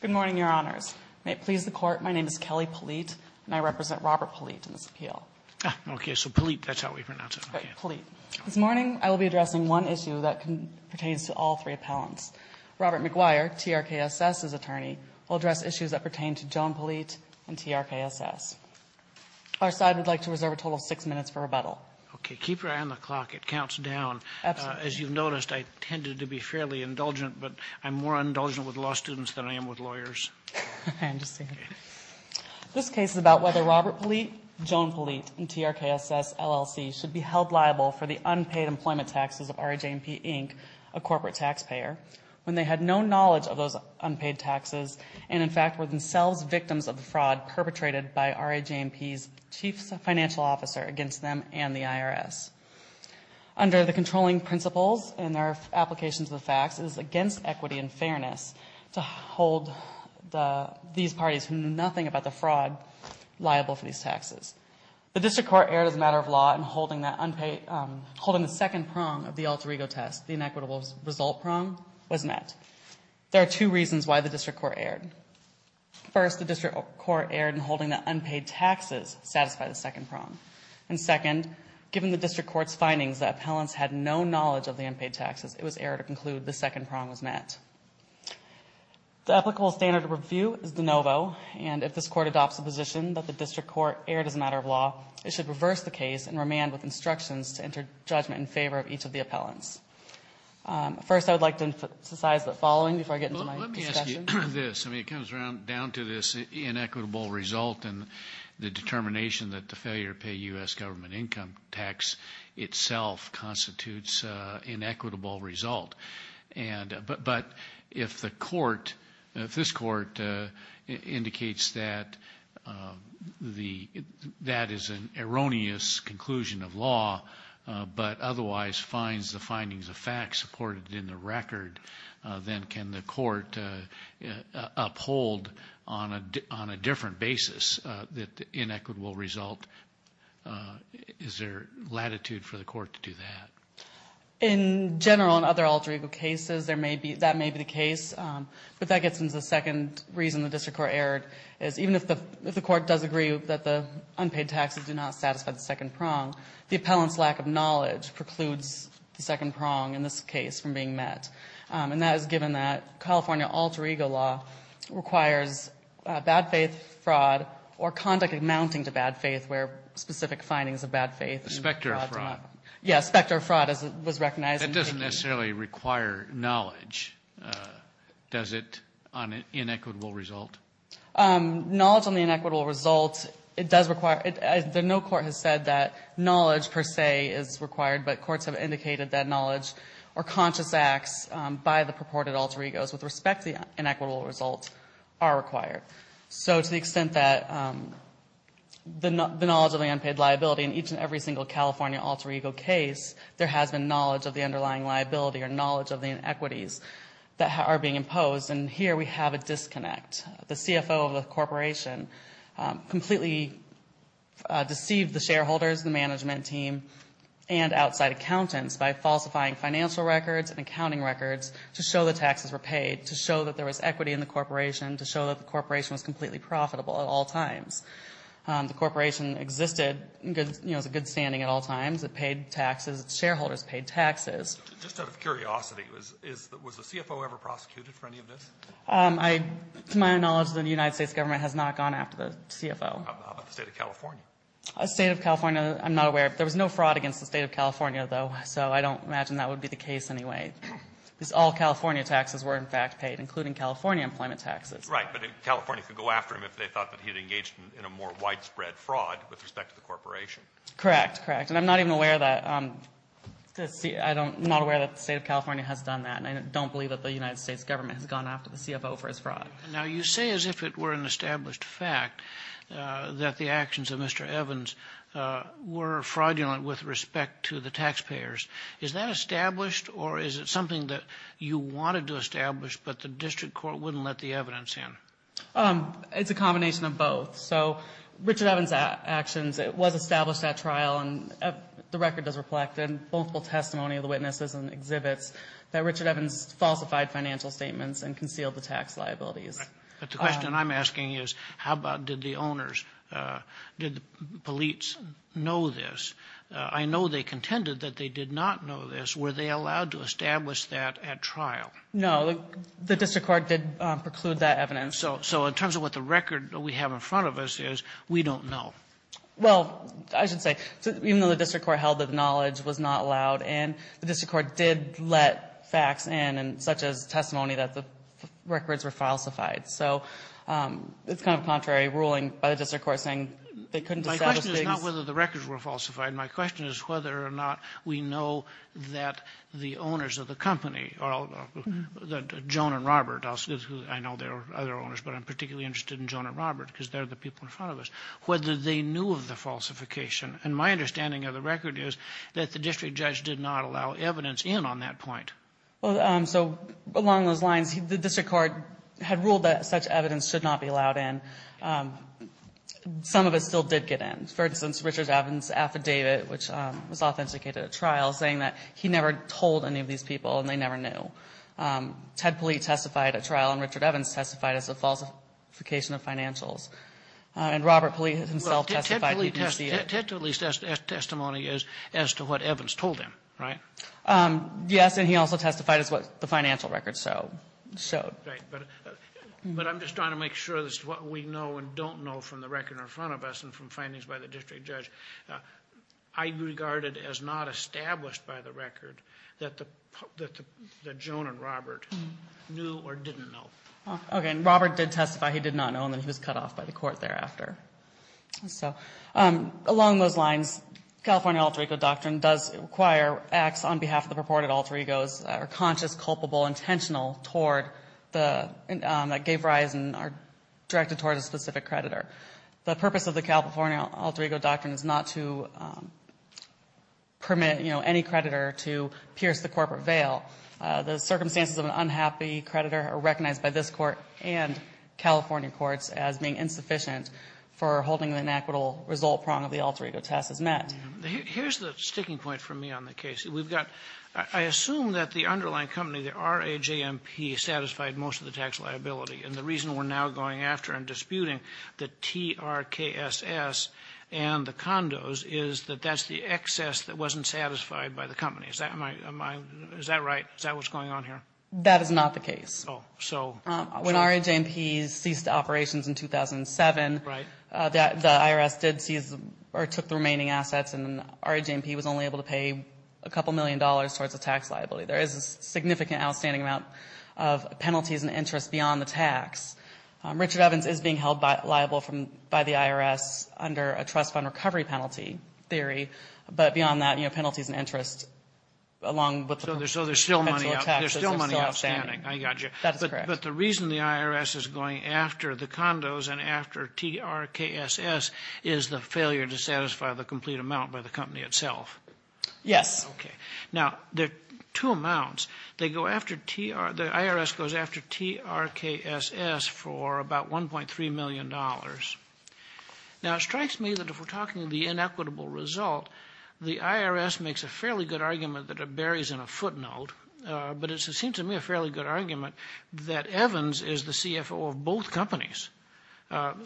Good morning, Your Honors. May it please the Court, my name is Kelly Politte and I represent Robert Politte in this appeal. Okay, so Politte, that's how we pronounce it. Politte. This morning I will be addressing one issue that pertains to all three appellants. Robert McGuire, TRKSS's attorney, will address issues that pertain to Joan Politte and TRKSS. Our side would like to reserve a total of six minutes for rebuttal. Okay, keep your eye on the clock. It counts down. Absolutely. As you've noticed, I tended to be fairly indulgent, but I'm more indulgent with law students than I am with lawyers. I understand. This case is about whether Robert Politte, Joan Politte, and TRKSS LLC should be held liable for the unpaid employment taxes of RAJMP, Inc., a corporate taxpayer, when they had no knowledge of those unpaid taxes and, in fact, were themselves victims of the fraud perpetrated by RAJMP's chief financial officer against them and the IRS. Under the controlling principles and their application to the facts, it is against equity and fairness to hold these parties who knew nothing about the fraud liable for these taxes. The district court erred as a matter of law in holding the second prong of the Alter Ego test, the inequitable result prong, was met. There are two reasons why the district court erred. First, the district court erred in holding that unpaid taxes satisfied the second prong. And second, given the district court's findings that appellants had no knowledge of the unpaid taxes, it was error to conclude the second prong was met. The applicable standard of review is de novo, and if this court adopts the position that the district court erred as a matter of law, it should reverse the case and remand with instructions to enter judgment in favor of each of the appellants. First, I would like to emphasize the following before I get into my discussion. It comes down to this inequitable result and the determination that the failure to pay U.S. government income tax itself constitutes an inequitable result. But if this court indicates that that is an erroneous conclusion of law but otherwise finds the findings of fact supported in the record, then can the court uphold on a different basis that the inequitable result? Is there latitude for the court to do that? In general and other alter ego cases, that may be the case. But that gets into the second reason the district court erred is even if the court does agree that the unpaid taxes do not satisfy the second prong, the appellant's lack of knowledge precludes the second prong in this case from being met. And that is given that California alter ego law requires bad faith fraud or conduct amounting to bad faith where specific findings of bad faith are brought to light. Specter fraud. Yes, specter fraud was recognized. That doesn't necessarily require knowledge, does it, on an inequitable result? Knowledge on the inequitable result, it does require – no court has said that knowledge per se is required, but courts have indicated that knowledge or conscious acts by the purported alter egos with respect to the inequitable result are required. So to the extent that the knowledge of the unpaid liability in each and every single California alter ego case, there has been knowledge of the underlying liability or knowledge of the inequities that are being imposed. And here we have a disconnect. The CFO of the corporation completely deceived the shareholders, the management team, and outside accountants by falsifying financial records and accounting records to show the taxes were paid, to show that there was equity in the corporation, to show that the corporation was completely profitable at all times. The corporation existed, you know, in good standing at all times. It paid taxes. Its shareholders paid taxes. Just out of curiosity, was the CFO ever prosecuted for any of this? To my knowledge, the United States government has not gone after the CFO. How about the State of California? The State of California, I'm not aware. There was no fraud against the State of California, though, so I don't imagine that would be the case anyway. Because all California taxes were, in fact, paid, including California employment taxes. Right, but California could go after him if they thought that he had engaged in a more widespread fraud with respect to the corporation. Correct, correct. And I'm not even aware that the State of California has done that, and I don't believe that the United States government has gone after the CFO for his fraud. Now, you say as if it were an established fact that the actions of Mr. Evans were fraudulent with respect to the taxpayers. Is that established, or is it something that you wanted to establish but the district court wouldn't let the evidence in? It's a combination of both. So Richard Evans' actions, it was established at trial, and the record does reflect it, and multiple testimony of the witnesses and exhibits that Richard Evans falsified financial statements and concealed the tax liabilities. Right, but the question I'm asking is how about did the owners, did the police know this? I know they contended that they did not know this. Were they allowed to establish that at trial? No. The district court did preclude that evidence. So in terms of what the record we have in front of us is, we don't know. Well, I should say, even though the district court held that the knowledge was not allowed, and the district court did let facts in, such as testimony that the records were falsified. So it's kind of contrary ruling by the district court saying they couldn't establish things. My question is not whether the records were falsified. My question is whether or not we know that the owners of the company, Joan and Robert, I know there are other owners, but I'm particularly interested in Joan and Robert because they're the people in front of us, whether they knew of the falsification. And my understanding of the record is that the district judge did not allow evidence in on that point. So along those lines, the district court had ruled that such evidence should not be allowed in. Some of it still did get in. For instance, Richard Evans' affidavit, which was authenticated at trial, saying that he never told any of these people and they never knew. Ted Polite testified at trial, and Richard Evans testified as a falsification of financials. And Robert Polite himself testified. Ted Polite's testimony is as to what Evans told him, right? Yes, and he also testified as what the financial records showed. But I'm just trying to make sure this is what we know and don't know from the record in front of us and from findings by the district judge. I regard it as not established by the record that Joan and Robert knew or didn't know. Okay, and Robert did testify he did not know, and then he was cut off by the court thereafter. So along those lines, California alter ego doctrine does require acts on behalf of the purported alter egos that are conscious, culpable, intentional, that gave rise and are directed toward a specific creditor. The purpose of the California alter ego doctrine is not to permit, you know, any creditor to pierce the corporate veil. The circumstances of an unhappy creditor are recognized by this Court and California courts as being insufficient for holding the inequitable result prong of the alter ego test as met. Here's the sticking point for me on the case. We've got, I assume that the underlying company, the RAJMP, satisfied most of the tax liability. And the reason we're now going after and disputing the TRKSS and the condos is that that's the excess that wasn't satisfied by the company. Is that my, is that right? Is that what's going on here? That is not the case. Oh, so. When RAJMP ceased operations in 2007. Right. The IRS did seize or took the remaining assets and RAJMP was only able to pay a couple million dollars towards the tax liability. There is a significant outstanding amount of penalties and interest beyond the tax. Richard Evans is being held liable by the IRS under a trust fund recovery penalty theory. But beyond that, you know, penalties and interest along with the potential tax. So there's still money outstanding. There's still money outstanding. I got you. That is correct. But the reason the IRS is going after the condos and after TRKSS is the failure to satisfy the complete amount by the company itself. Yes. Okay. Now, there are two amounts. They go after, the IRS goes after TRKSS for about $1.3 million. Now, it strikes me that if we're talking the inequitable result, the IRS makes a fairly good argument that it buries in a footnote. But it seems to me a fairly good argument that Evans is the CFO of both companies.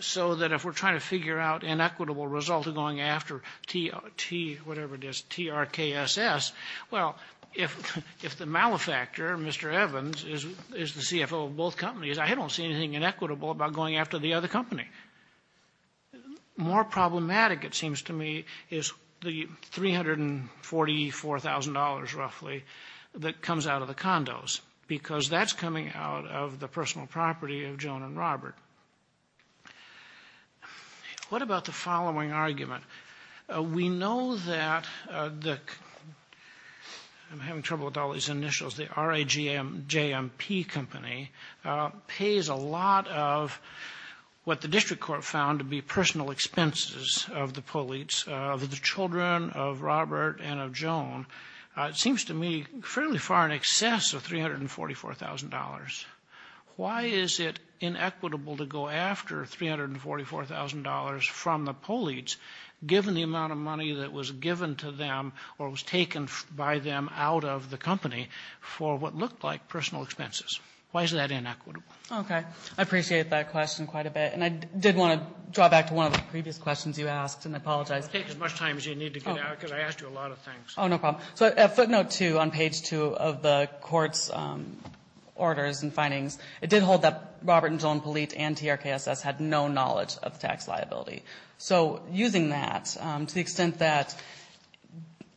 So that if we're trying to figure out inequitable result of going after TRKSS, well, if the malefactor, Mr. Evans, is the CFO of both companies, I don't see anything inequitable about going after the other company. More problematic, it seems to me, is the $344,000 roughly that comes out of the condos, because that's coming out of the personal property of Joan and Robert. What about the following argument? We know that the, I'm having trouble with all these initials, the RAJMP Company pays a lot of what the district court found to be personal expenses of the Polites, of the children of Robert and of Joan. It seems to me fairly far in excess of $344,000. Why is it inequitable to go after $344,000 from the Polites, given the amount of money that was given to them or was taken by them out of the company for what looked like personal expenses? Why is that inequitable? Okay. I appreciate that question quite a bit. And I did want to draw back to one of the previous questions you asked, and I apologize. Take as much time as you need to get out, because I asked you a lot of things. Oh, no problem. So a footnote, too, on page 2 of the court's orders and findings, it did hold that Robert and Joan Polite and TRKSS had no knowledge of tax liability. So using that, to the extent that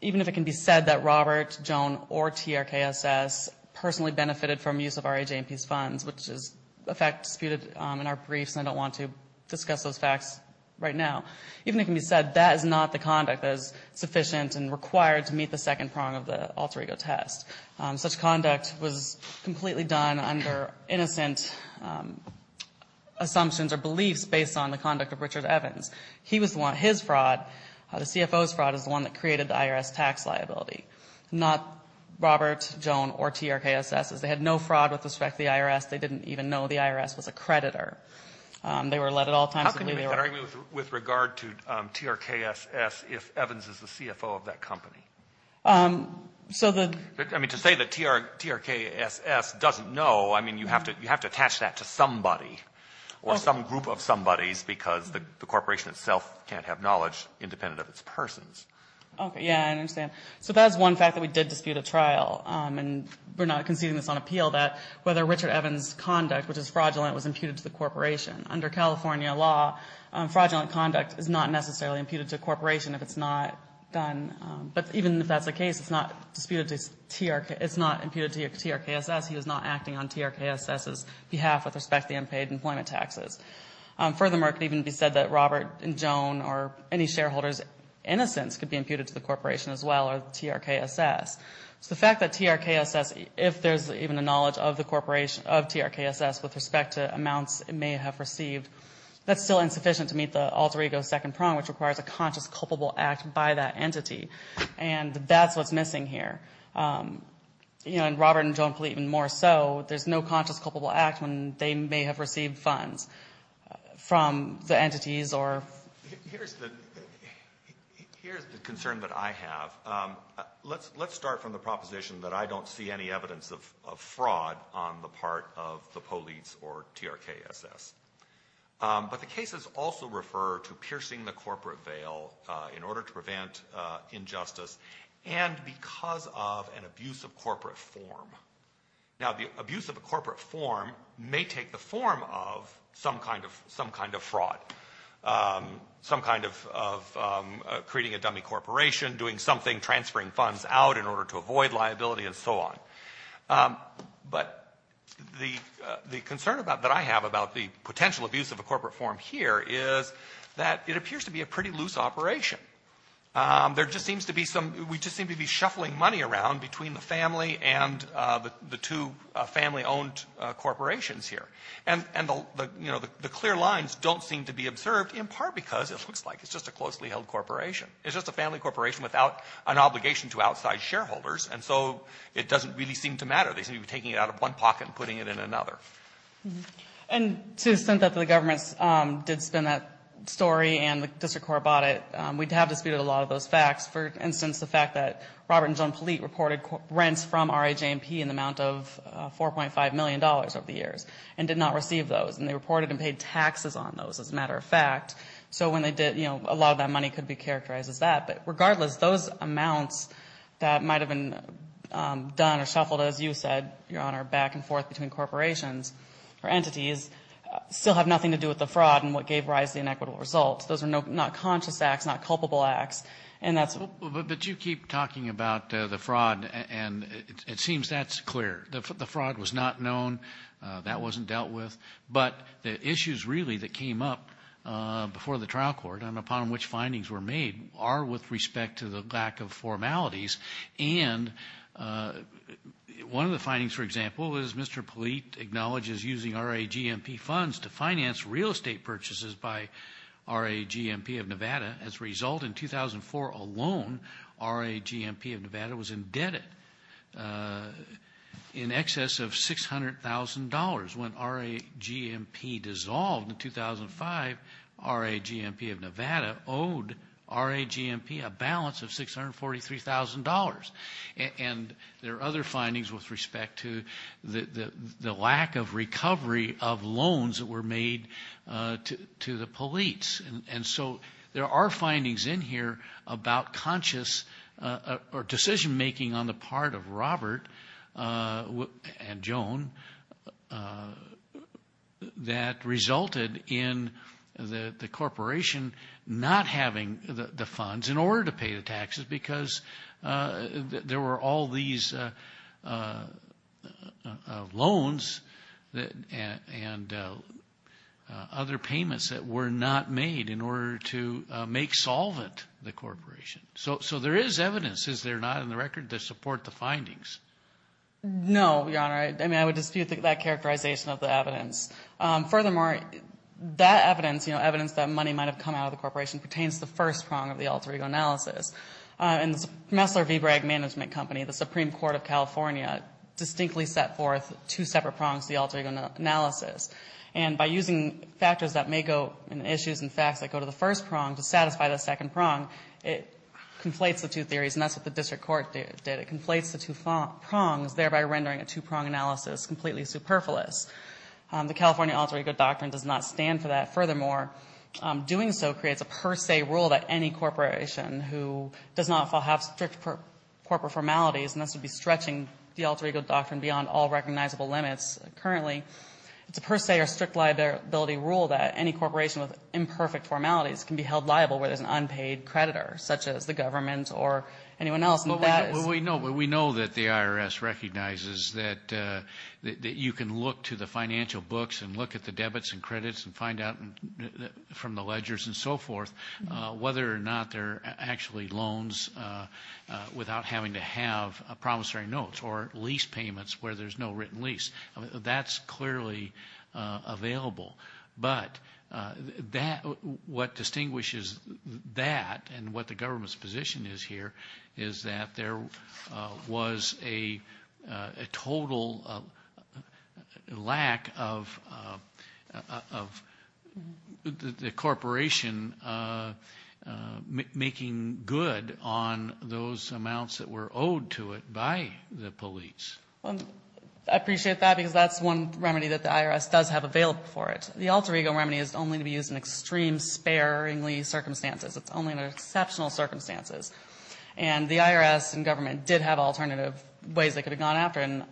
even if it can be said that Robert, Joan, or TRKSS personally benefited from use of RAJMP's funds, which is a fact disputed in our briefs, and I don't want to discuss those facts right now, even if it can be said that is not the conduct that is sufficient and required to meet the second prong of the alter ego test. Such conduct was completely done under innocent assumptions or beliefs based on the conduct of Richard Evans. His fraud, the CFO's fraud, is the one that created the IRS tax liability. Not Robert, Joan, or TRKSS's. They had no fraud with respect to the IRS. They didn't even know the IRS was a creditor. They were led at all times to believe they were. How can you make that argument with regard to TRKSS if Evans is the CFO of that company? I mean, to say that TRKSS doesn't know, I mean, you have to attach that to somebody or some group of somebodies because the corporation itself can't have knowledge independent of its persons. Okay, yeah, I understand. So that is one fact that we did dispute at trial, and we're not conceding this on appeal, that whether Richard Evans' conduct, which is fraudulent, was imputed to the corporation. Under California law, fraudulent conduct is not necessarily imputed to a corporation if it's not done. But even if that's the case, it's not imputed to TRKSS. He was not acting on TRKSS's behalf with respect to the unpaid employment taxes. Furthermore, it could even be said that Robert and Joan or any shareholder's innocence could be imputed to the corporation as well or TRKSS. So the fact that TRKSS, if there's even a knowledge of TRKSS with respect to amounts it may have received, that's still insufficient to meet the alter ego second prong, which requires a conscious culpable act by that entity. And that's what's missing here. You know, in Robert and Joan Fleet and more so, there's no conscious culpable act when they may have received funds from the entities or... Here's the concern that I have. Let's start from the proposition that I don't see any evidence of fraud on the part of the police or TRKSS. But the cases also refer to piercing the corporate veil in order to prevent injustice and because of an abuse of corporate form. Now, the abuse of a corporate form may take the form of some kind of fraud, some kind of creating a dummy corporation, doing something, transferring funds out in order to avoid liability and so on. But the concern that I have about the potential abuse of a corporate form here is that it appears to be a pretty loose operation. There just seems to be some we just seem to be shuffling money around between the family and the two family-owned corporations here. And the clear lines don't seem to be observed in part because it looks like it's just a closely held corporation. It's just a family corporation without an obligation to outside shareholders and so it doesn't really seem to matter. They seem to be taking it out of one pocket and putting it in another. And to the extent that the governments did spin that story and the district court bought it, we'd have disputed a lot of those facts. For instance, the fact that Robert and Joan Fleet reported rents from RAJ&P in the amount of $4.5 million over the years and did not receive those. And they reported and paid taxes on those, as a matter of fact. So when they did, a lot of that money could be characterized as that. But regardless, those amounts that might have been done or shuffled, as you said, Your Honor, back and forth between corporations or entities, still have nothing to do with the fraud and what gave rise to the inequitable results. Those are not conscious acts, not culpable acts. But you keep talking about the fraud, and it seems that's clear. The fraud was not known. That wasn't dealt with. But the issues really that came up before the trial court and upon which findings were made are with respect to the lack of formalities. And one of the findings, for example, is Mr. Polite acknowledges using RAJ&P funds to finance real estate purchases by RAJ&P of Nevada. As a result, in 2004 alone, RAJ&P of Nevada was indebted in excess of $600,000. When RAJ&P dissolved in 2005, RAJ&P of Nevada owed RAJ&P a balance of $643,000. And there are other findings with respect to the lack of recovery of loans that were made to the Polites. And so there are findings in here about conscious or decision-making on the part of Robert and Joan that resulted in the corporation not having the funds in order to pay the taxes because there were all these loans and other payments that were not made in order to make solvent the corporation. So there is evidence, is there not, in the record to support the findings? No, Your Honor. I mean, I would dispute that characterization of the evidence. Furthermore, that evidence, you know, evidence that money might have come out of the corporation pertains to the first prong of the alter ego analysis. And the Messler V. Bragg Management Company, the Supreme Court of California, distinctly set forth two separate prongs to the alter ego analysis. And by using factors that may go in issues and facts that go to the first prong to satisfy the second prong, it conflates the two theories, and that's what the district court did. It conflates the two prongs, thereby rendering a two-prong analysis completely superfluous. The California alter ego doctrine does not stand for that. Furthermore, doing so creates a per se rule that any corporation who does not have strict corporate formalities, and this would be stretching the alter ego doctrine beyond all recognizable limits currently, it's a per se or strict liability rule that any corporation with imperfect formalities can be held liable where there's an unpaid creditor, such as the government or anyone else. But we know that the IRS recognizes that you can look to the financial books and look at the debits and credits and find out from the ledgers and so forth whether or not they're actually loans without having to have promissory notes or lease payments where there's no written lease. That's clearly available. But what distinguishes that and what the government's position is here is that there was a total lack of the corporation making good on those amounts that were owed to it by the police. Well, I appreciate that because that's one remedy that the IRS does have available for it. The alter ego remedy is only to be used in extreme sparingly circumstances. It's only in exceptional circumstances. And the IRS and government did have alternative ways they could have gone after, and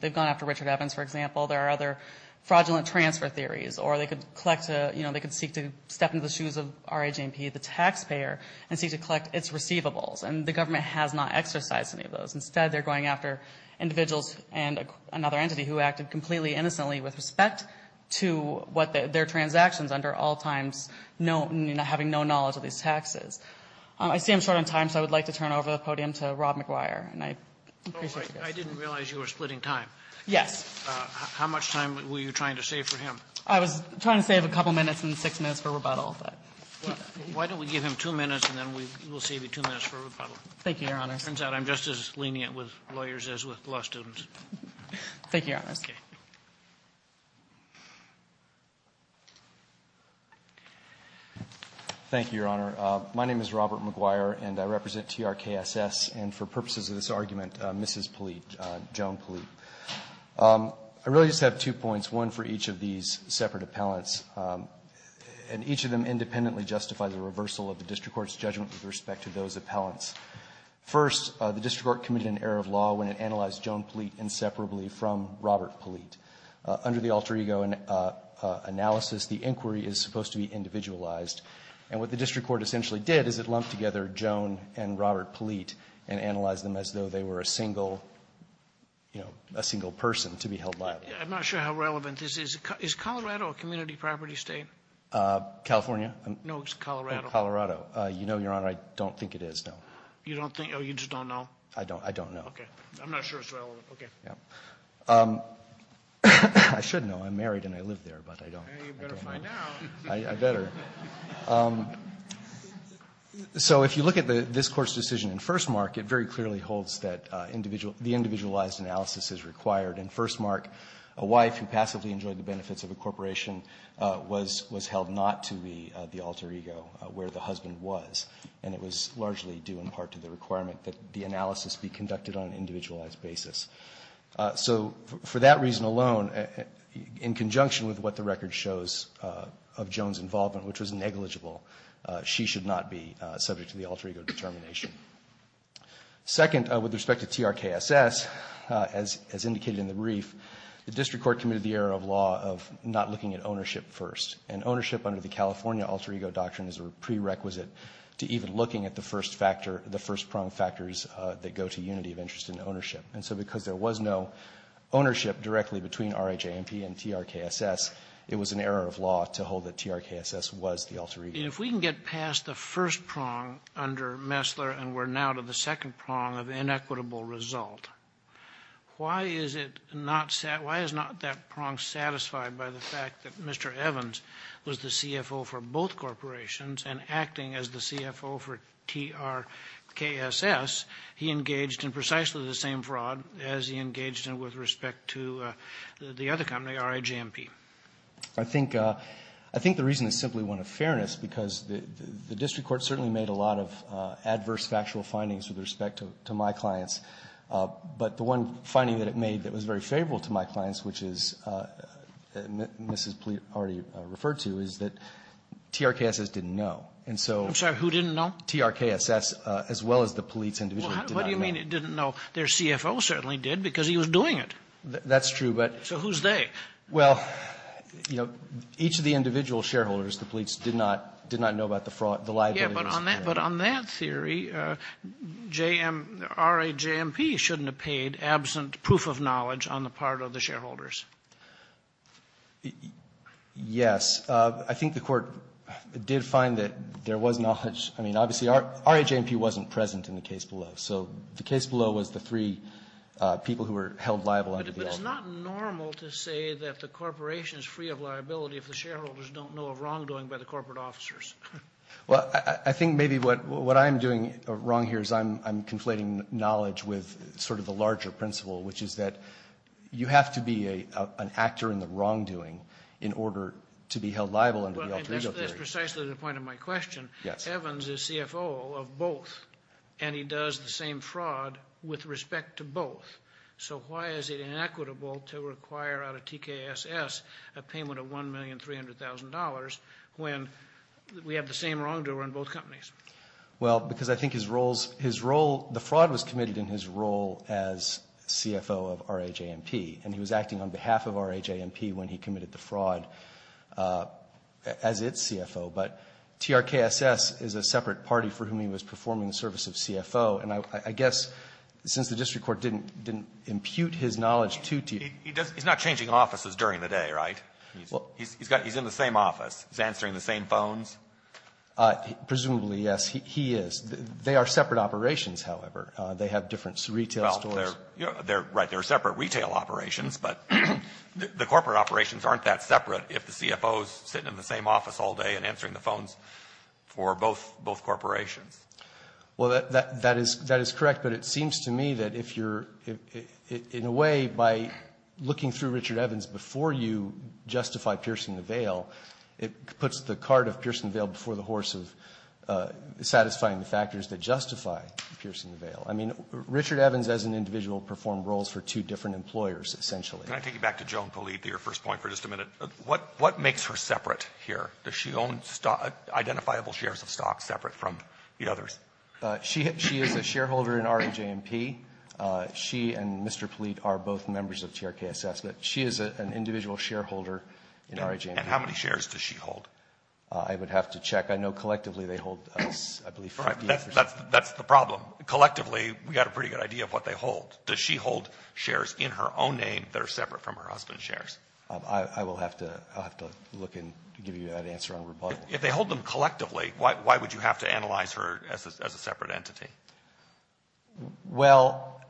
they've gone after Richard Evans, for example. There are other fraudulent transfer theories, or they could collect, you know, they could seek to step into the shoes of R.H.N.P., the taxpayer, and seek to collect its receivables. And the government has not exercised any of those. Instead, they're going after individuals and another entity who acted completely innocently with respect to what their transactions under all times, having no knowledge of these taxes. I see I'm short on time, so I would like to turn over the podium to Rob McGuire. And I appreciate your question. Sotomayor, I didn't realize you were splitting time. Yes. How much time were you trying to save for him? I was trying to save a couple minutes and six minutes for rebuttal. Why don't we give him two minutes and then we will save you two minutes for rebuttal. Thank you, Your Honor. It turns out I'm just as lenient with lawyers as with law students. Thank you, Your Honor. Thank you, Your Honor. My name is Robert McGuire, and I represent TRKSS. And for purposes of this argument, Mrs. Polite, Joan Polite, I really just have two points, one for each of these separate appellants. And each of them independently justify the reversal of the district court's judgment with respect to those appellants. First, the district court committed an error of law when it analyzed Joan Polite inseparably from Robert Polite. Under the alter-ego analysis, the inquiry is supposed to be individualized. And what the district court essentially did is it lumped together Joan and Robert Polite and analyzed them as though they were a single, you know, a single person to be held liable. I'm not sure how relevant this is. Is Colorado a community property State? California? No, it's Colorado. Colorado. You know, Your Honor, I don't think it is, no. You don't think? Oh, you just don't know? I don't. I don't know. Okay. I'm not sure it's relevant. Okay. Yeah. I should know. I'm married and I live there, but I don't. You better find out. I better. So if you look at this Court's decision in First Mark, it very clearly holds that individual the individualized analysis is required. In First Mark, a wife who passively enjoyed the benefits of a corporation was held not to be the alter ego where the husband was, and it was largely due in part to the requirement that the analysis be conducted on an individualized basis. So for that reason alone, in conjunction with what the record shows of Joan's involvement, which was negligible, she should not be subject to the alter ego determination. Second, with respect to TRKSS, as indicated in the brief, the district court committed the error of law of not looking at ownership first. And ownership under the California alter ego doctrine is a prerequisite to even looking at the first factor, the first prong factors that go to unity of interest in ownership. And so because there was no ownership directly between R.I.J.M.P. and TRKSS, it was an error of law to hold that TRKSS was the alter ego. And if we can get past the first prong under Messler and we're now to the second prong of inequitable result, why is it not sat — why is not that prong satisfied by the fact that Mr. Evans was the CFO for both corporations and acting as the CFO for TRKSS, he engaged in precisely the same fraud as he engaged in with respect to the other company, R.I.J.M.P.? I think — I think the reason is simply one of fairness, because the district court certainly made a lot of adverse factual findings with respect to my clients, but the one finding that it made that was very favorable to my clients, which is, as Mrs. Pleth already referred to, is that TRKSS didn't know. And so — I'm sorry. Who didn't know? TRKSS, as well as the police individually did not know. Well, what do you mean it didn't know? Their CFO certainly did, because he was doing it. That's true, but — So who's they? Well, you know, each of the individual shareholders, the police, did not — did not know about the fraud — the liabilities. Yeah, but on that — but on that theory, J.M. — R.I.J.M.P. shouldn't have paid absent proof of knowledge on the part of the shareholders. Yes. I think the Court did find that there was knowledge — I mean, obviously, R.I.J.M.P. wasn't present in the case below. So the case below was the three people who were held liable under the — But it's not normal to say that the corporation is free of liability if the shareholders don't know of wrongdoing by the corporate officers. Well, I think maybe what I'm doing wrong here is I'm conflating knowledge with sort of the larger principle, which is that you have to be an actor in the wrongdoing in order to be held liable under the alter ego theory. Well, and that's precisely the point of my question. Yes. Evans is CFO of both, and he does the same fraud with respect to both. So why is it inequitable to require out of TKSS a payment of $1,300,000 when we have the same wrongdoer in both companies? Well, because I think his role — the fraud was committed in his role as CFO of R.I.J.M.P., and he was acting on behalf of R.I.J.M.P. when he committed the fraud as its CFO. But TRKSS is a separate party for whom he was performing the service of CFO, and I guess since the district court didn't impute his knowledge to T. He's not changing offices during the day, right? He's in the same office. He's answering the same phones? Presumably, yes. He is. They are separate operations, however. They have different retail stores. Well, you're right. They're separate retail operations, but the corporate operations aren't that separate if the CFO is sitting in the same office all day and answering the phones for both corporations. Well, that is correct, but it seems to me that if you're — in a way, by looking through Richard Evans before you justify piercing the veil, it puts the cart of piercing the veil before the horse of satisfying the factors that justify piercing the veil. I mean, Richard Evans as an individual performed roles for two different employers, essentially. Can I take you back to Joan Polito, your first point, for just a minute? What makes her separate here? Does she own identifiable shares of stocks separate from the others? She is a shareholder in REJMP. She and Mr. Polito are both members of TRKSS, but she is an individual shareholder in REJMP. And how many shares does she hold? I would have to check. I know collectively they hold, I believe, 50. That's the problem. Collectively, we've got a pretty good idea of what they hold. Does she hold shares in her own name that are separate from her husband's shares? I will have to look and give you that answer on rebuttal. If they hold them collectively, why would you have to analyze her as a separate entity? Well,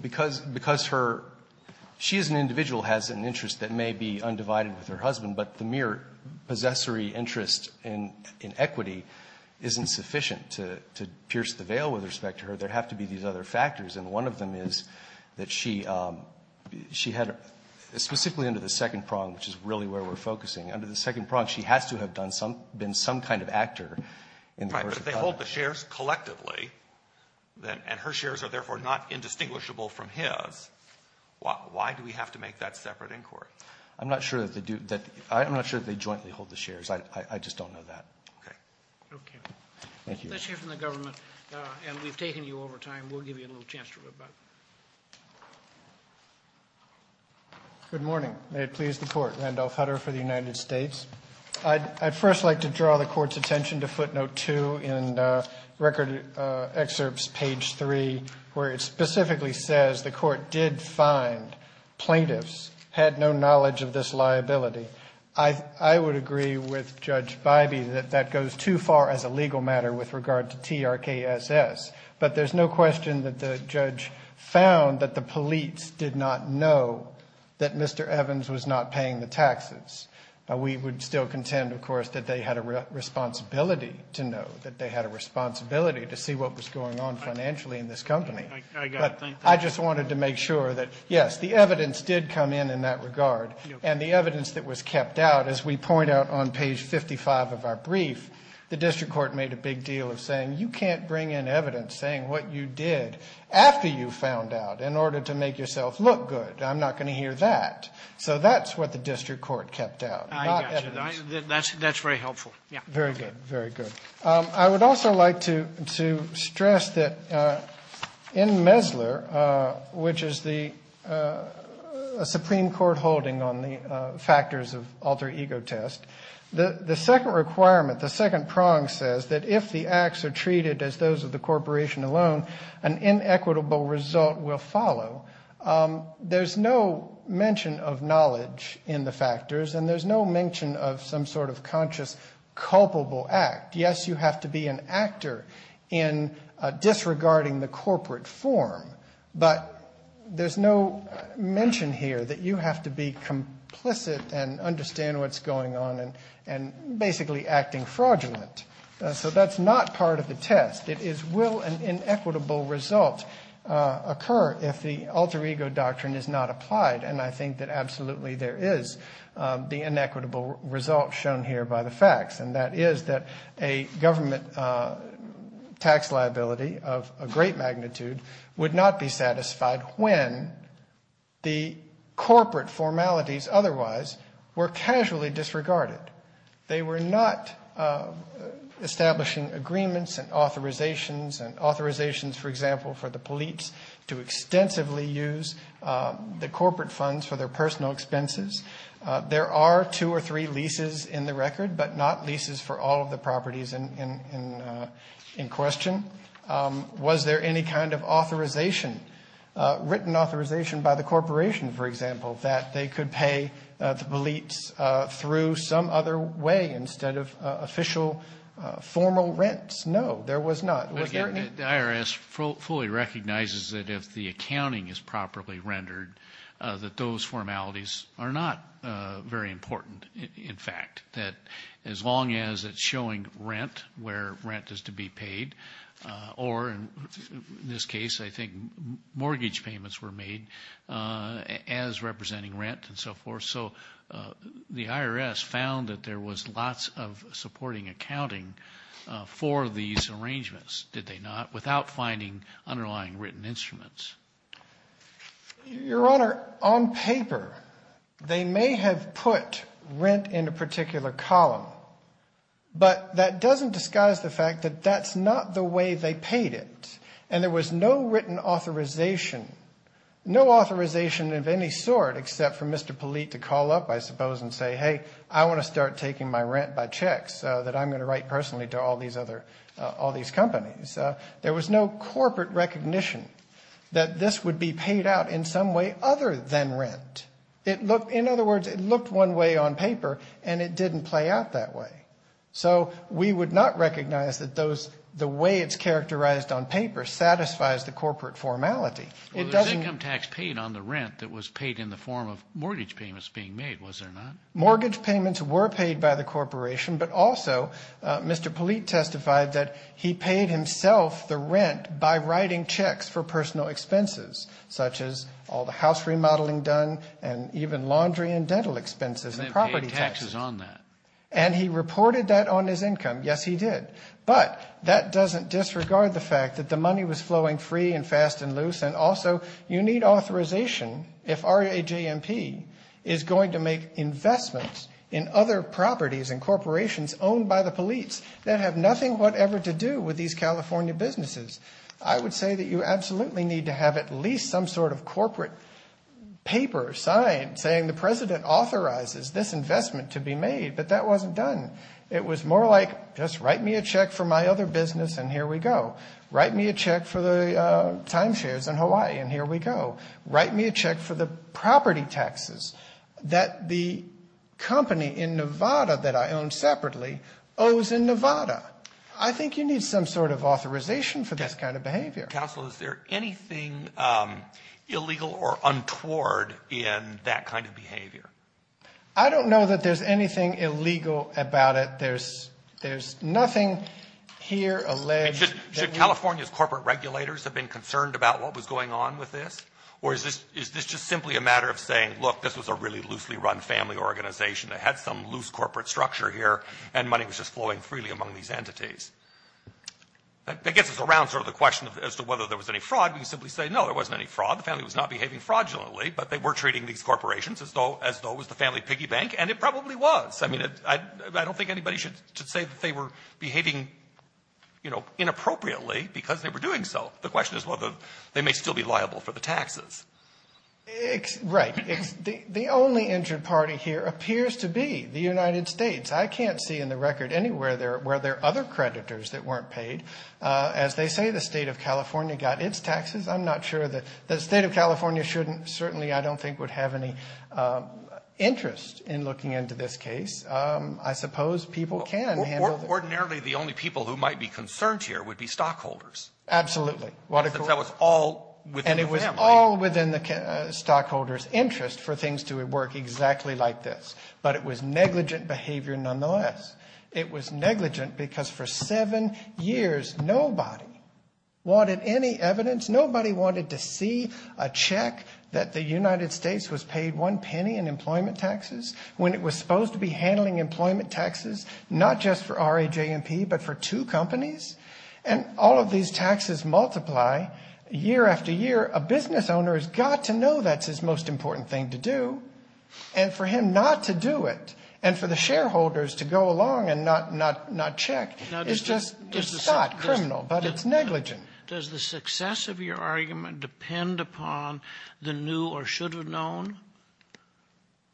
because her – she as an individual has an interest that may be undivided with her husband, but the mere possessory interest in equity isn't sufficient to pierce the veil with respect to her. There have to be these other factors. And one of them is that she had – specifically under the second prong, which is really where we're focusing. Under the second prong, she has to have done some – been some kind of actor. Right. But if they hold the shares collectively, and her shares are therefore not indistinguishable from his, why do we have to make that separate inquiry? I'm not sure that they do – I'm not sure that they jointly hold the shares. I just don't know that. Okay. Okay. Thank you. That's here from the government, and we've taken you over time. We'll give you a little chance to go back. Good morning. May it please the Court. Randolph Hutter for the United States. I'd first like to draw the Court's attention to footnote 2 in record excerpts, page 3, where it specifically says the Court did find plaintiffs had no knowledge of this liability. I would agree with Judge Bybee that that goes too far as a legal matter with regard to TRKSS. But there's no question that the judge found that the police did not know that Mr. Evans was not paying the taxes. We would still contend, of course, that they had a responsibility to know, that they had a responsibility to see what was going on financially in this company. I got it. Thank you. I just wanted to make sure that, yes, the evidence did come in in that regard, and the evidence that was kept out, as we point out on page 55 of our brief, the district court made a big deal of saying, you can't bring in evidence saying what you did after you found out in order to make yourself look good. I'm not going to hear that. So that's what the district court kept out. I got you. That's very helpful. Very good. Very good. I would also like to stress that in Mesler, which is the Supreme Court holding on the factors of alter ego test, the second requirement, the second prong, says that if the acts are treated as those of the corporation alone, an inequitable result will follow. There's no mention of knowledge in the factors, and there's no mention of some sort of conscious culpable act. Yes, you have to be an actor in disregarding the corporate form, but there's no mention here that you have to be complicit and understand what's going on and basically acting fraudulent. So that's not part of the test. It is will an inequitable result occur if the alter ego doctrine is not applied, and I think that absolutely there is the inequitable result shown here by the facts, and that is that a government tax liability of a great magnitude would not be casually disregarded. They were not establishing agreements and authorizations and authorizations, for example, for the police to extensively use the corporate funds for their personal expenses. There are two or three leases in the record, but not leases for all of the properties in question. Was there any kind of authorization, written authorization by the corporation, for example, that they could pay the police through some other way instead of official formal rents? No, there was not. The IRS fully recognizes that if the accounting is properly rendered, that those formalities are not very important. In fact, that as long as it's showing rent where rent is to be paid, or in this case, I think mortgage payments were made as representing rent and so forth, so the IRS found that there was lots of supporting accounting for these arrangements, did they not, without finding underlying written instruments? Your Honor, on paper, they may have put rent in a particular column, but that doesn't disguise the fact that that's not the way they paid it, and there was no written authorization, no authorization of any sort, except for Mr. Polite to call up, I suppose, and say, hey, I want to start taking my rent by checks that I'm going to write personally to all these other, all these companies. There was no corporate recognition that this would be paid out in some way other than rent. It looked, in other words, it looked one way on paper and it didn't play out that way. So we would not recognize that those, the way it's characterized on paper satisfies the corporate formality. It doesn't. Income tax paid on the rent that was paid in the form of mortgage payments being made, was there not? Mortgage payments were paid by the corporation, but also Mr. Polite testified that he paid himself the rent by writing checks for personal expenses, such as all the house remodeling done and even laundry and dental expenses and property taxes on that. And he reported that on his income. Yes, he did. But that doesn't disregard the fact that the money was flowing free and fast and loose. And also you need authorization. If our AJMP is going to make investments in other properties and corporations owned by the police that have nothing whatever to do with these California businesses, I would say that you absolutely need to have at least some sort of corporate paper sign saying the president authorizes this investment to be made. But that wasn't done. It was more like, just write me a check for my other business and here we go. Write me a check for the time shares in Hawaii and here we go. Write me a check for the property taxes that the company in Nevada that I own separately owes in Nevada. I think you need some sort of authorization for this kind of behavior. Counselor, is there anything illegal or untoward in that kind of behavior? I don't know that there's anything illegal about it. There's nothing here alleged. Should California's corporate regulators have been concerned about what was going on with this? Or is this just simply a matter of saying, look, this was a really loosely run family organization that had some loose corporate structure here and money was just flowing freely among these entities. That gets us around sort of the question as to whether there was any fraud. We can simply say, no, there wasn't any fraud. The family was not behaving fraudulently, but they were treating these corporations as though it was the family piggy bank and it probably was. I mean, I don't think anybody should say that they were behaving inappropriately because they were doing so. The question is whether they may still be liable for the taxes. Right. The only injured party here appears to be the United States. I can't see in the record anywhere where there are other creditors that weren't paid. As they say, the state of California got its taxes. I'm not sure that the state of California shouldn't certainly I don't think would have any interest in looking into this case. I suppose people can. Ordinarily, the only people who might be concerned here would be stockholders. Absolutely. That was all. And it was all within the stockholders interest for things to work exactly like this, but it was negligent behavior. Nonetheless, it was negligent because for seven years, nobody wanted any evidence. Nobody wanted to see a check that the United States was paid one penny in employment taxes when it was supposed to be handling employment taxes, not just for RA, J and P, but for two companies. And all of these taxes multiply year after year. A business owner has got to know that's his most important thing to do. And for him not to do it. And for the shareholders to go along and not, not, not check. It's just, it's not criminal, but it's negligent. Does the success of your argument depend upon the new or should have known?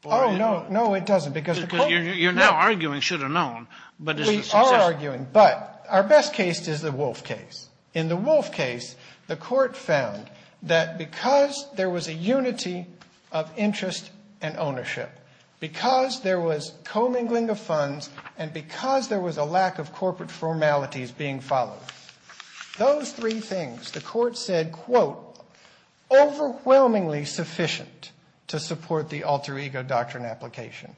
Oh, no, no, it doesn't. Because you're now arguing should have known, but we are arguing, but our best case is the wolf case. In the wolf case, the court found that because there was a unity of interest and ownership, because there was commingling of funds, and because there was a lack of corporate formalities being followed, those three things, the court said, quote, overwhelmingly sufficient to support the alter ego doctrine application.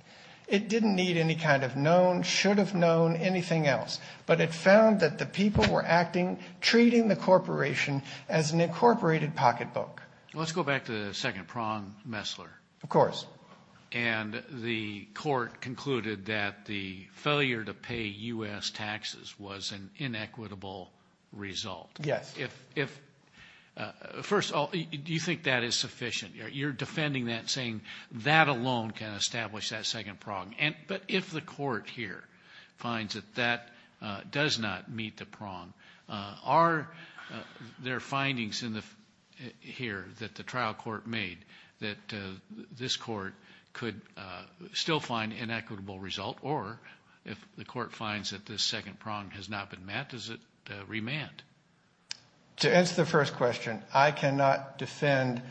It didn't need any kind of known, should have known anything else, but it found that the people were acting, treating the corporation as an incorporated pocketbook. Let's go back to the second prong, Messler. Of course. And the court concluded that the failure to pay U.S. taxes was an inequitable result. Yes. If, first of all, do you think that is sufficient? You're defending that, saying that alone can establish that second prong. But if the court here finds that that does not meet the prong, are there findings here that the trial court made that this court could still find an inequitable result? Or if the court finds that this second prong has not been met, does it remand? To answer the first question, I cannot defend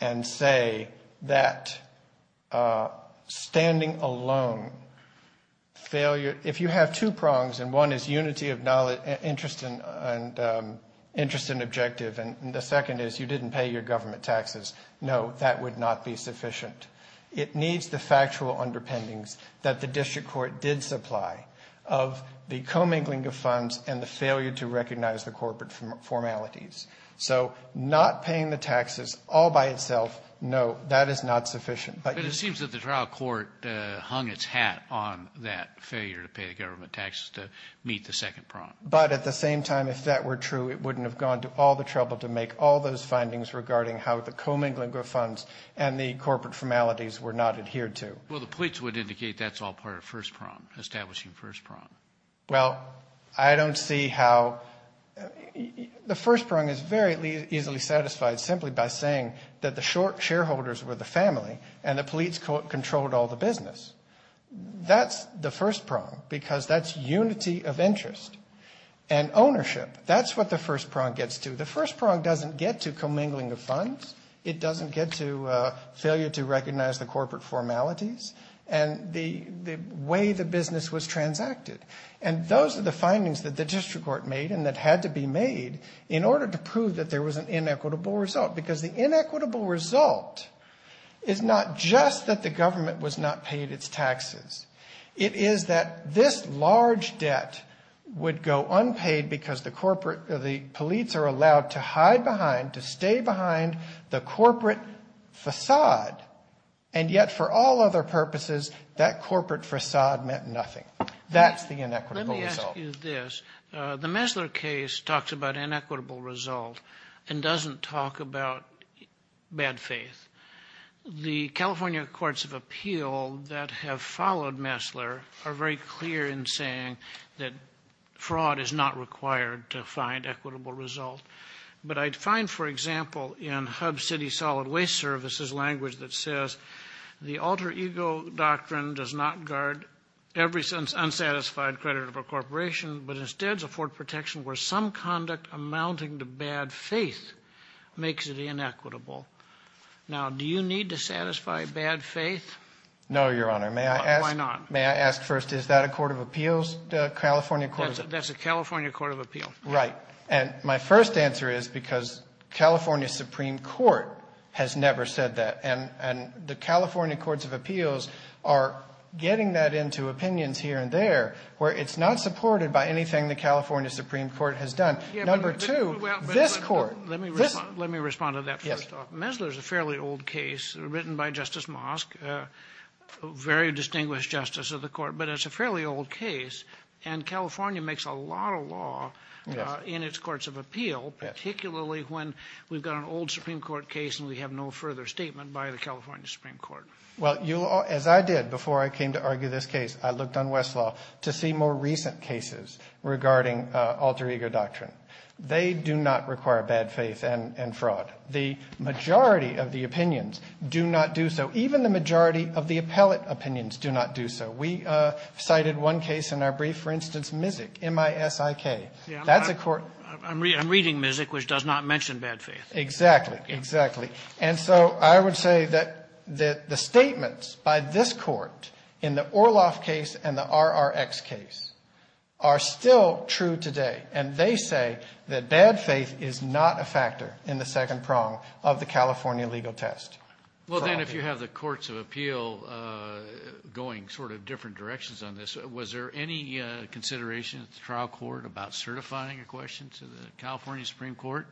and say that standing alone, failure, if you have two prongs, and one is unity of interest and objective, and the second is you didn't pay your government taxes, no, that would not be sufficient. It needs the factual underpinnings that the district court did supply of the commingling of funds and the failure to recognize the corporate formalities. So not paying the taxes all by itself, no, that is not sufficient. But it seems that the trial court hung its hat on that failure to pay the government taxes to meet the second prong. But at the same time, if that were true, it wouldn't have gone to all the trouble to make all those findings regarding how the commingling of funds and the corporate formalities were not adhered to. Well, the plates would indicate that's all part of first prong, establishing first prong. Well, I don't see how the first prong is very easily satisfied simply by saying that the short shareholders were the family, and the police controlled all the business. That's the first prong, because that's unity of interest and ownership. That's what the first prong gets to. The first prong doesn't get to commingling of funds. It doesn't get to failure to recognize the corporate formalities and the way the business was transacted. And those are the findings that the district court made and that had to be made in order to prove that there was an inequitable result, because the inequitable result is not just that the government was not paid its taxes. It is that this large debt would go unpaid because the police are allowed to hide behind, to stay behind the corporate facade. And yet, for all other purposes, that corporate facade meant nothing. That's the inequitable result. Let me ask you this. The Messler case talks about inequitable result and doesn't talk about bad faith. The California courts of appeal that have followed Messler are very clear in saying that fraud is not required to find equitable result. But I'd find, for example, in Hub City Solid Waste Service's language that says, the alter ego doctrine does not guard every unsatisfied credit of a corporation, but instead afford protection where some conduct amounting to bad faith makes it inequitable. Now, do you need to satisfy bad faith? No, Your Honor. Why not? May I ask first, is that a court of appeals? That's a California court of appeal. Right. And my first answer is because California Supreme Court has never said that. And the California courts of appeals are getting that into opinions here and there, where it's not supported by anything the California Supreme Court has done. Number two, this court. Let me respond to that first. Messler is a fairly old case written by Justice Mosk, a very distinguished justice of the court, but it's a fairly old case. And California makes a lot of law in its courts of appeal, particularly when we've got an old Supreme Court case and we have no further statement by the California Supreme Court. Well, as I did before I came to argue this case, I looked on Westlaw to see more recent cases regarding alter ego doctrine. They do not require bad faith and fraud. The majority of the opinions do not do so. Even the majority of the appellate opinions do not do so. We cited one case in our brief, for instance, MISIK, M-I-S-I-K. That's a court ---- I'm reading MISIK, which does not mention bad faith. Exactly. Exactly. And so I would say that the statements by this Court in the Orloff case and the RRX case are still true today. And they say that bad faith is not a factor in the second prong of the California legal test. Well, then, if you have the courts of appeal going sort of different directions on this, was there any consideration at the trial court about certifying a question to the California Supreme Court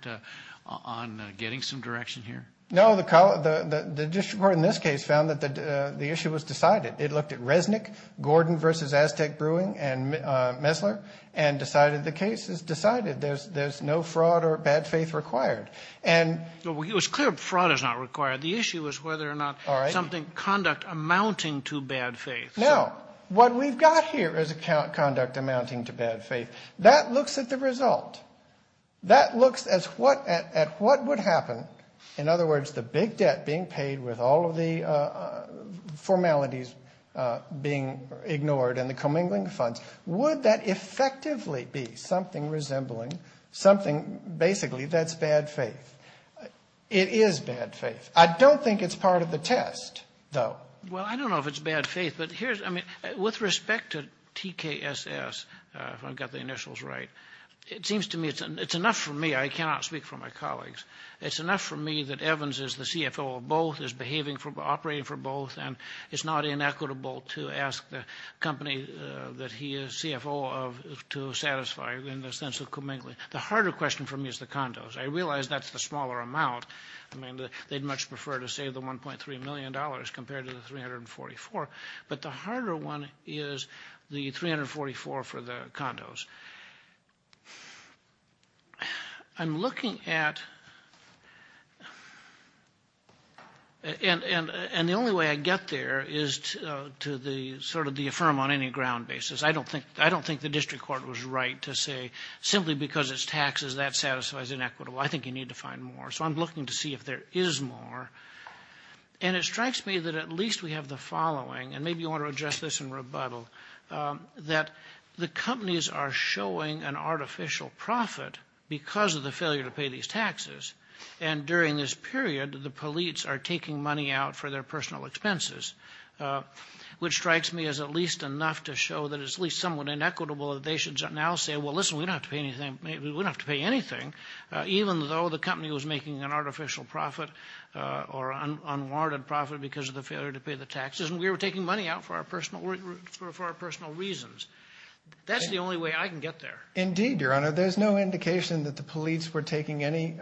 on getting some direction here? No. The district court in this case found that the issue was decided. It looked at Resnick, Gordon v. Aztec Brewing, and Messler and decided the case is decided. There's no fraud or bad faith required. It was clear fraud is not required. The issue is whether or not something, conduct amounting to bad faith. Now, what we've got here is conduct amounting to bad faith. That looks at the result. That looks at what would happen. In other words, the big debt being paid with all of the formalities being ignored and the commingling funds. Would that effectively be something resembling something basically that's bad faith? It is bad faith. I don't think it's part of the test, though. Well, I don't know if it's bad faith. With respect to TKSS, if I've got the initials right, it seems to me it's enough for me. I cannot speak for my colleagues. It's enough for me that Evans is the CFO of both, is operating for both, and it's not inequitable to ask the company that he is CFO of to satisfy in the sense of commingling. The harder question for me is the condos. I realize that's the smaller amount. I mean, they'd much prefer to save the $1.3 million compared to the $344 million, but the harder one is the $344 million for the condos. I'm looking at, and the only way I get there is to sort of affirm on any ground basis. I don't think the district court was right to say simply because it's taxes that satisfies inequitable. I think you need to find more. So I'm looking to see if there is more. And it strikes me that at least we have the following, and maybe you want to address this in rebuttal, that the companies are showing an artificial profit because of the failure to pay these taxes, and during this period the police are taking money out for their personal expenses, which strikes me as at least enough to show that it's at least somewhat inequitable that they should now say, well, listen, we don't have to pay anything. Even though the company was making an artificial profit or unwarranted profit because of the failure to pay the taxes, and we were taking money out for our personal reasons. That's the only way I can get there. Indeed, Your Honor. There's no indication that the police were taking any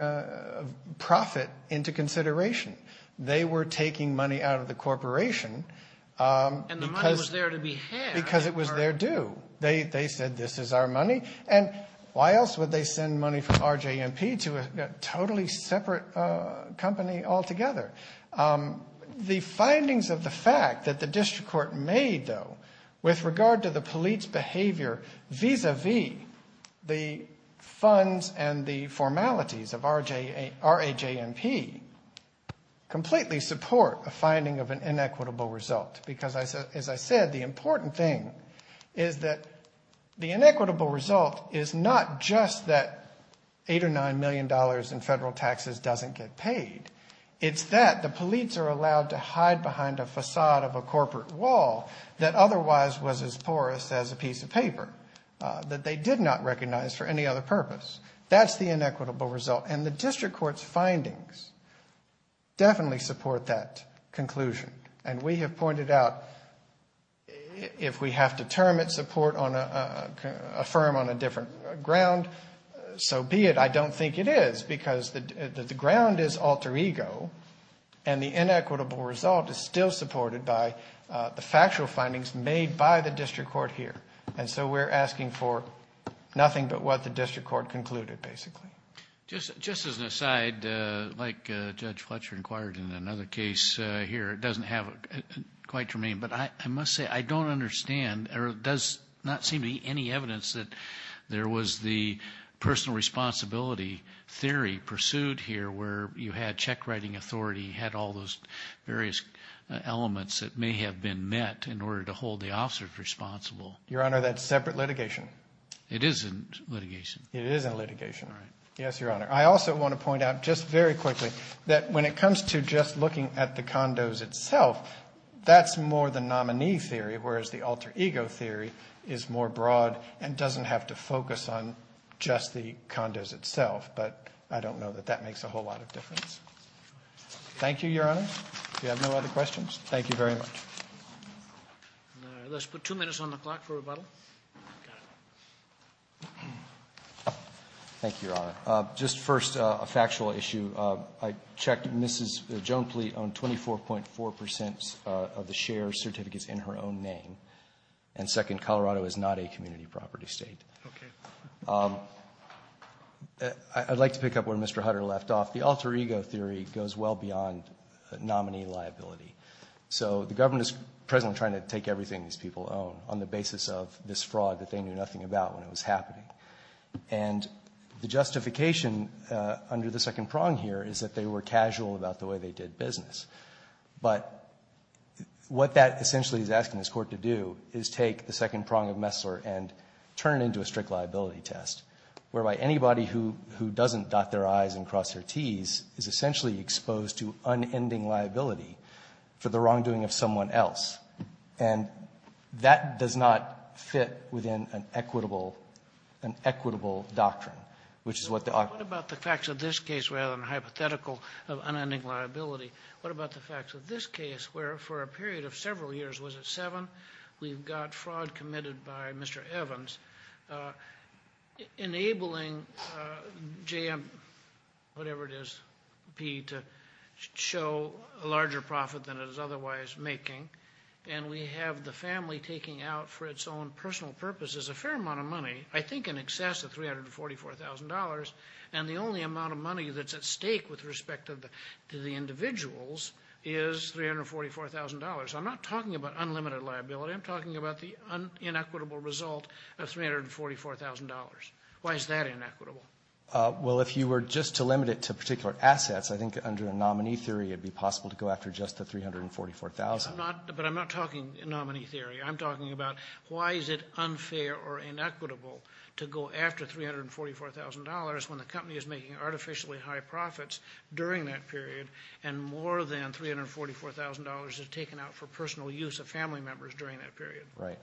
profit into consideration. They were taking money out of the corporation because it was their due. They said this is our money, and why else would they send money from RJ&P to a totally separate company altogether? The findings of the fact that the district court made, though, with regard to the police behavior vis-a-vis the funds and the formalities of RJ&P completely support a finding of an inequitable result because, as I said, the important thing is that the inequitable result is not just that $8 or $9 million in federal taxes doesn't get paid. It's that the police are allowed to hide behind a facade of a corporate wall that otherwise was as porous as a piece of paper that they did not recognize for any other purpose. That's the inequitable result, and the district court's findings definitely support that conclusion. And we have pointed out if we have to term it, support, affirm on a different ground, so be it. I don't think it is because the ground is alter ego, and the inequitable result is still supported by the factual findings made by the district court here. And so we're asking for nothing but what the district court concluded, basically. Just as an aside, like Judge Fletcher inquired in another case here, it doesn't have quite germane, but I must say I don't understand or does not seem to be any evidence that there was the personal responsibility theory pursued here where you had check writing authority, had all those various elements that may have been met in order to hold the officers responsible. Your Honor, that's separate litigation. It isn't litigation. Yes, Your Honor. I also want to point out just very quickly that when it comes to just looking at the condos itself, that's more the nominee theory, whereas the alter ego theory is more broad and doesn't have to focus on just the condos itself. But I don't know that that makes a whole lot of difference. Thank you, Your Honor. If you have no other questions, thank you very much. Let's put two minutes on the clock for rebuttal. Thank you, Your Honor. Just first, a factual issue. I checked. Mrs. Joan Pleat owned 24.4 percent of the share certificates in her own name. And second, Colorado is not a community property state. Okay. I'd like to pick up where Mr. Hutter left off. The alter ego theory goes well beyond nominee liability. So the government is presently trying to take everything these people own on the basis of this fraud that they knew nothing about when it was happening. And the justification under the second prong here is that they were casual about the way they did business. But what that essentially is asking this court to do is take the second prong of Messler and turn it into a strict liability test, whereby anybody who doesn't dot their I's and cross their T's is essentially exposed to unending liability for the wrongdoing of someone else. And that does not fit within an equitable doctrine, which is what the authority What about the facts of this case rather than hypothetical of unending liability? What about the facts of this case, where for a period of several years, was it seven, we've got fraud committed by Mr. Evans, enabling JM, whatever it is, P, to show a larger profit than it is otherwise making, and we have the family taking out for its own personal purposes a fair amount of money, I think in excess of $344,000, and the only amount of money that's at stake with respect to the individuals is $344,000. I'm not talking about unlimited liability. I'm talking about the inequitable result of $344,000. Why is that inequitable? Well, if you were just to limit it to particular assets, I think under a nominee theory, it would be possible to go after just the $344,000. But I'm not talking nominee theory. I'm talking about why is it unfair or inequitable to go after $344,000 when the company is making artificially high profits during that period and more than $344,000 is taken out for personal use of family members during that period? Right.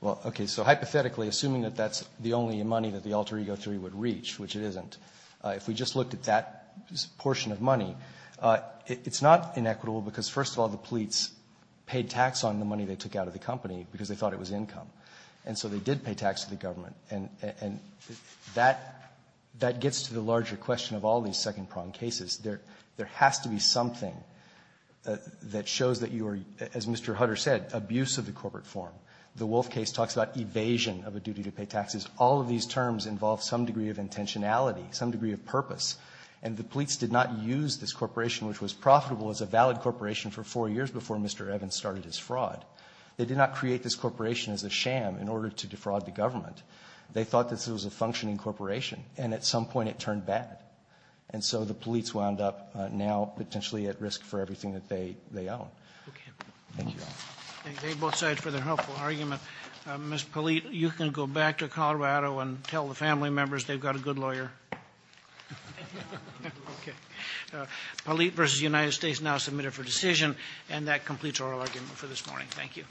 Well, okay, so hypothetically, assuming that that's the only money that the alter ego theory would reach, which it isn't, if we just looked at that portion of money, it's not inequitable because, first of all, the police paid tax on the money they took out of the company because they thought it was income. And so they did pay tax to the government. And that gets to the larger question of all these second-prong cases. There has to be something that shows that you are, as Mr. Hutter said, abuse of the corporate form. The Wolf case talks about evasion of a duty to pay taxes. All of these terms involve some degree of intentionality, some degree of purpose. And the police did not use this corporation, which was profitable, as a valid corporation for four years before Mr. Evans started his fraud. They did not create this corporation as a sham in order to defraud the government. They thought this was a functioning corporation. And at some point it turned bad. And so the police wound up now potentially at risk for everything that they own. Okay. Thank you. Thank you both sides for their helpful argument. Ms. Polite, you can go back to Colorado and tell the family members they've got a good lawyer. Okay. Polite v. United States now submitted for decision. And that completes our argument for this morning. Thank you.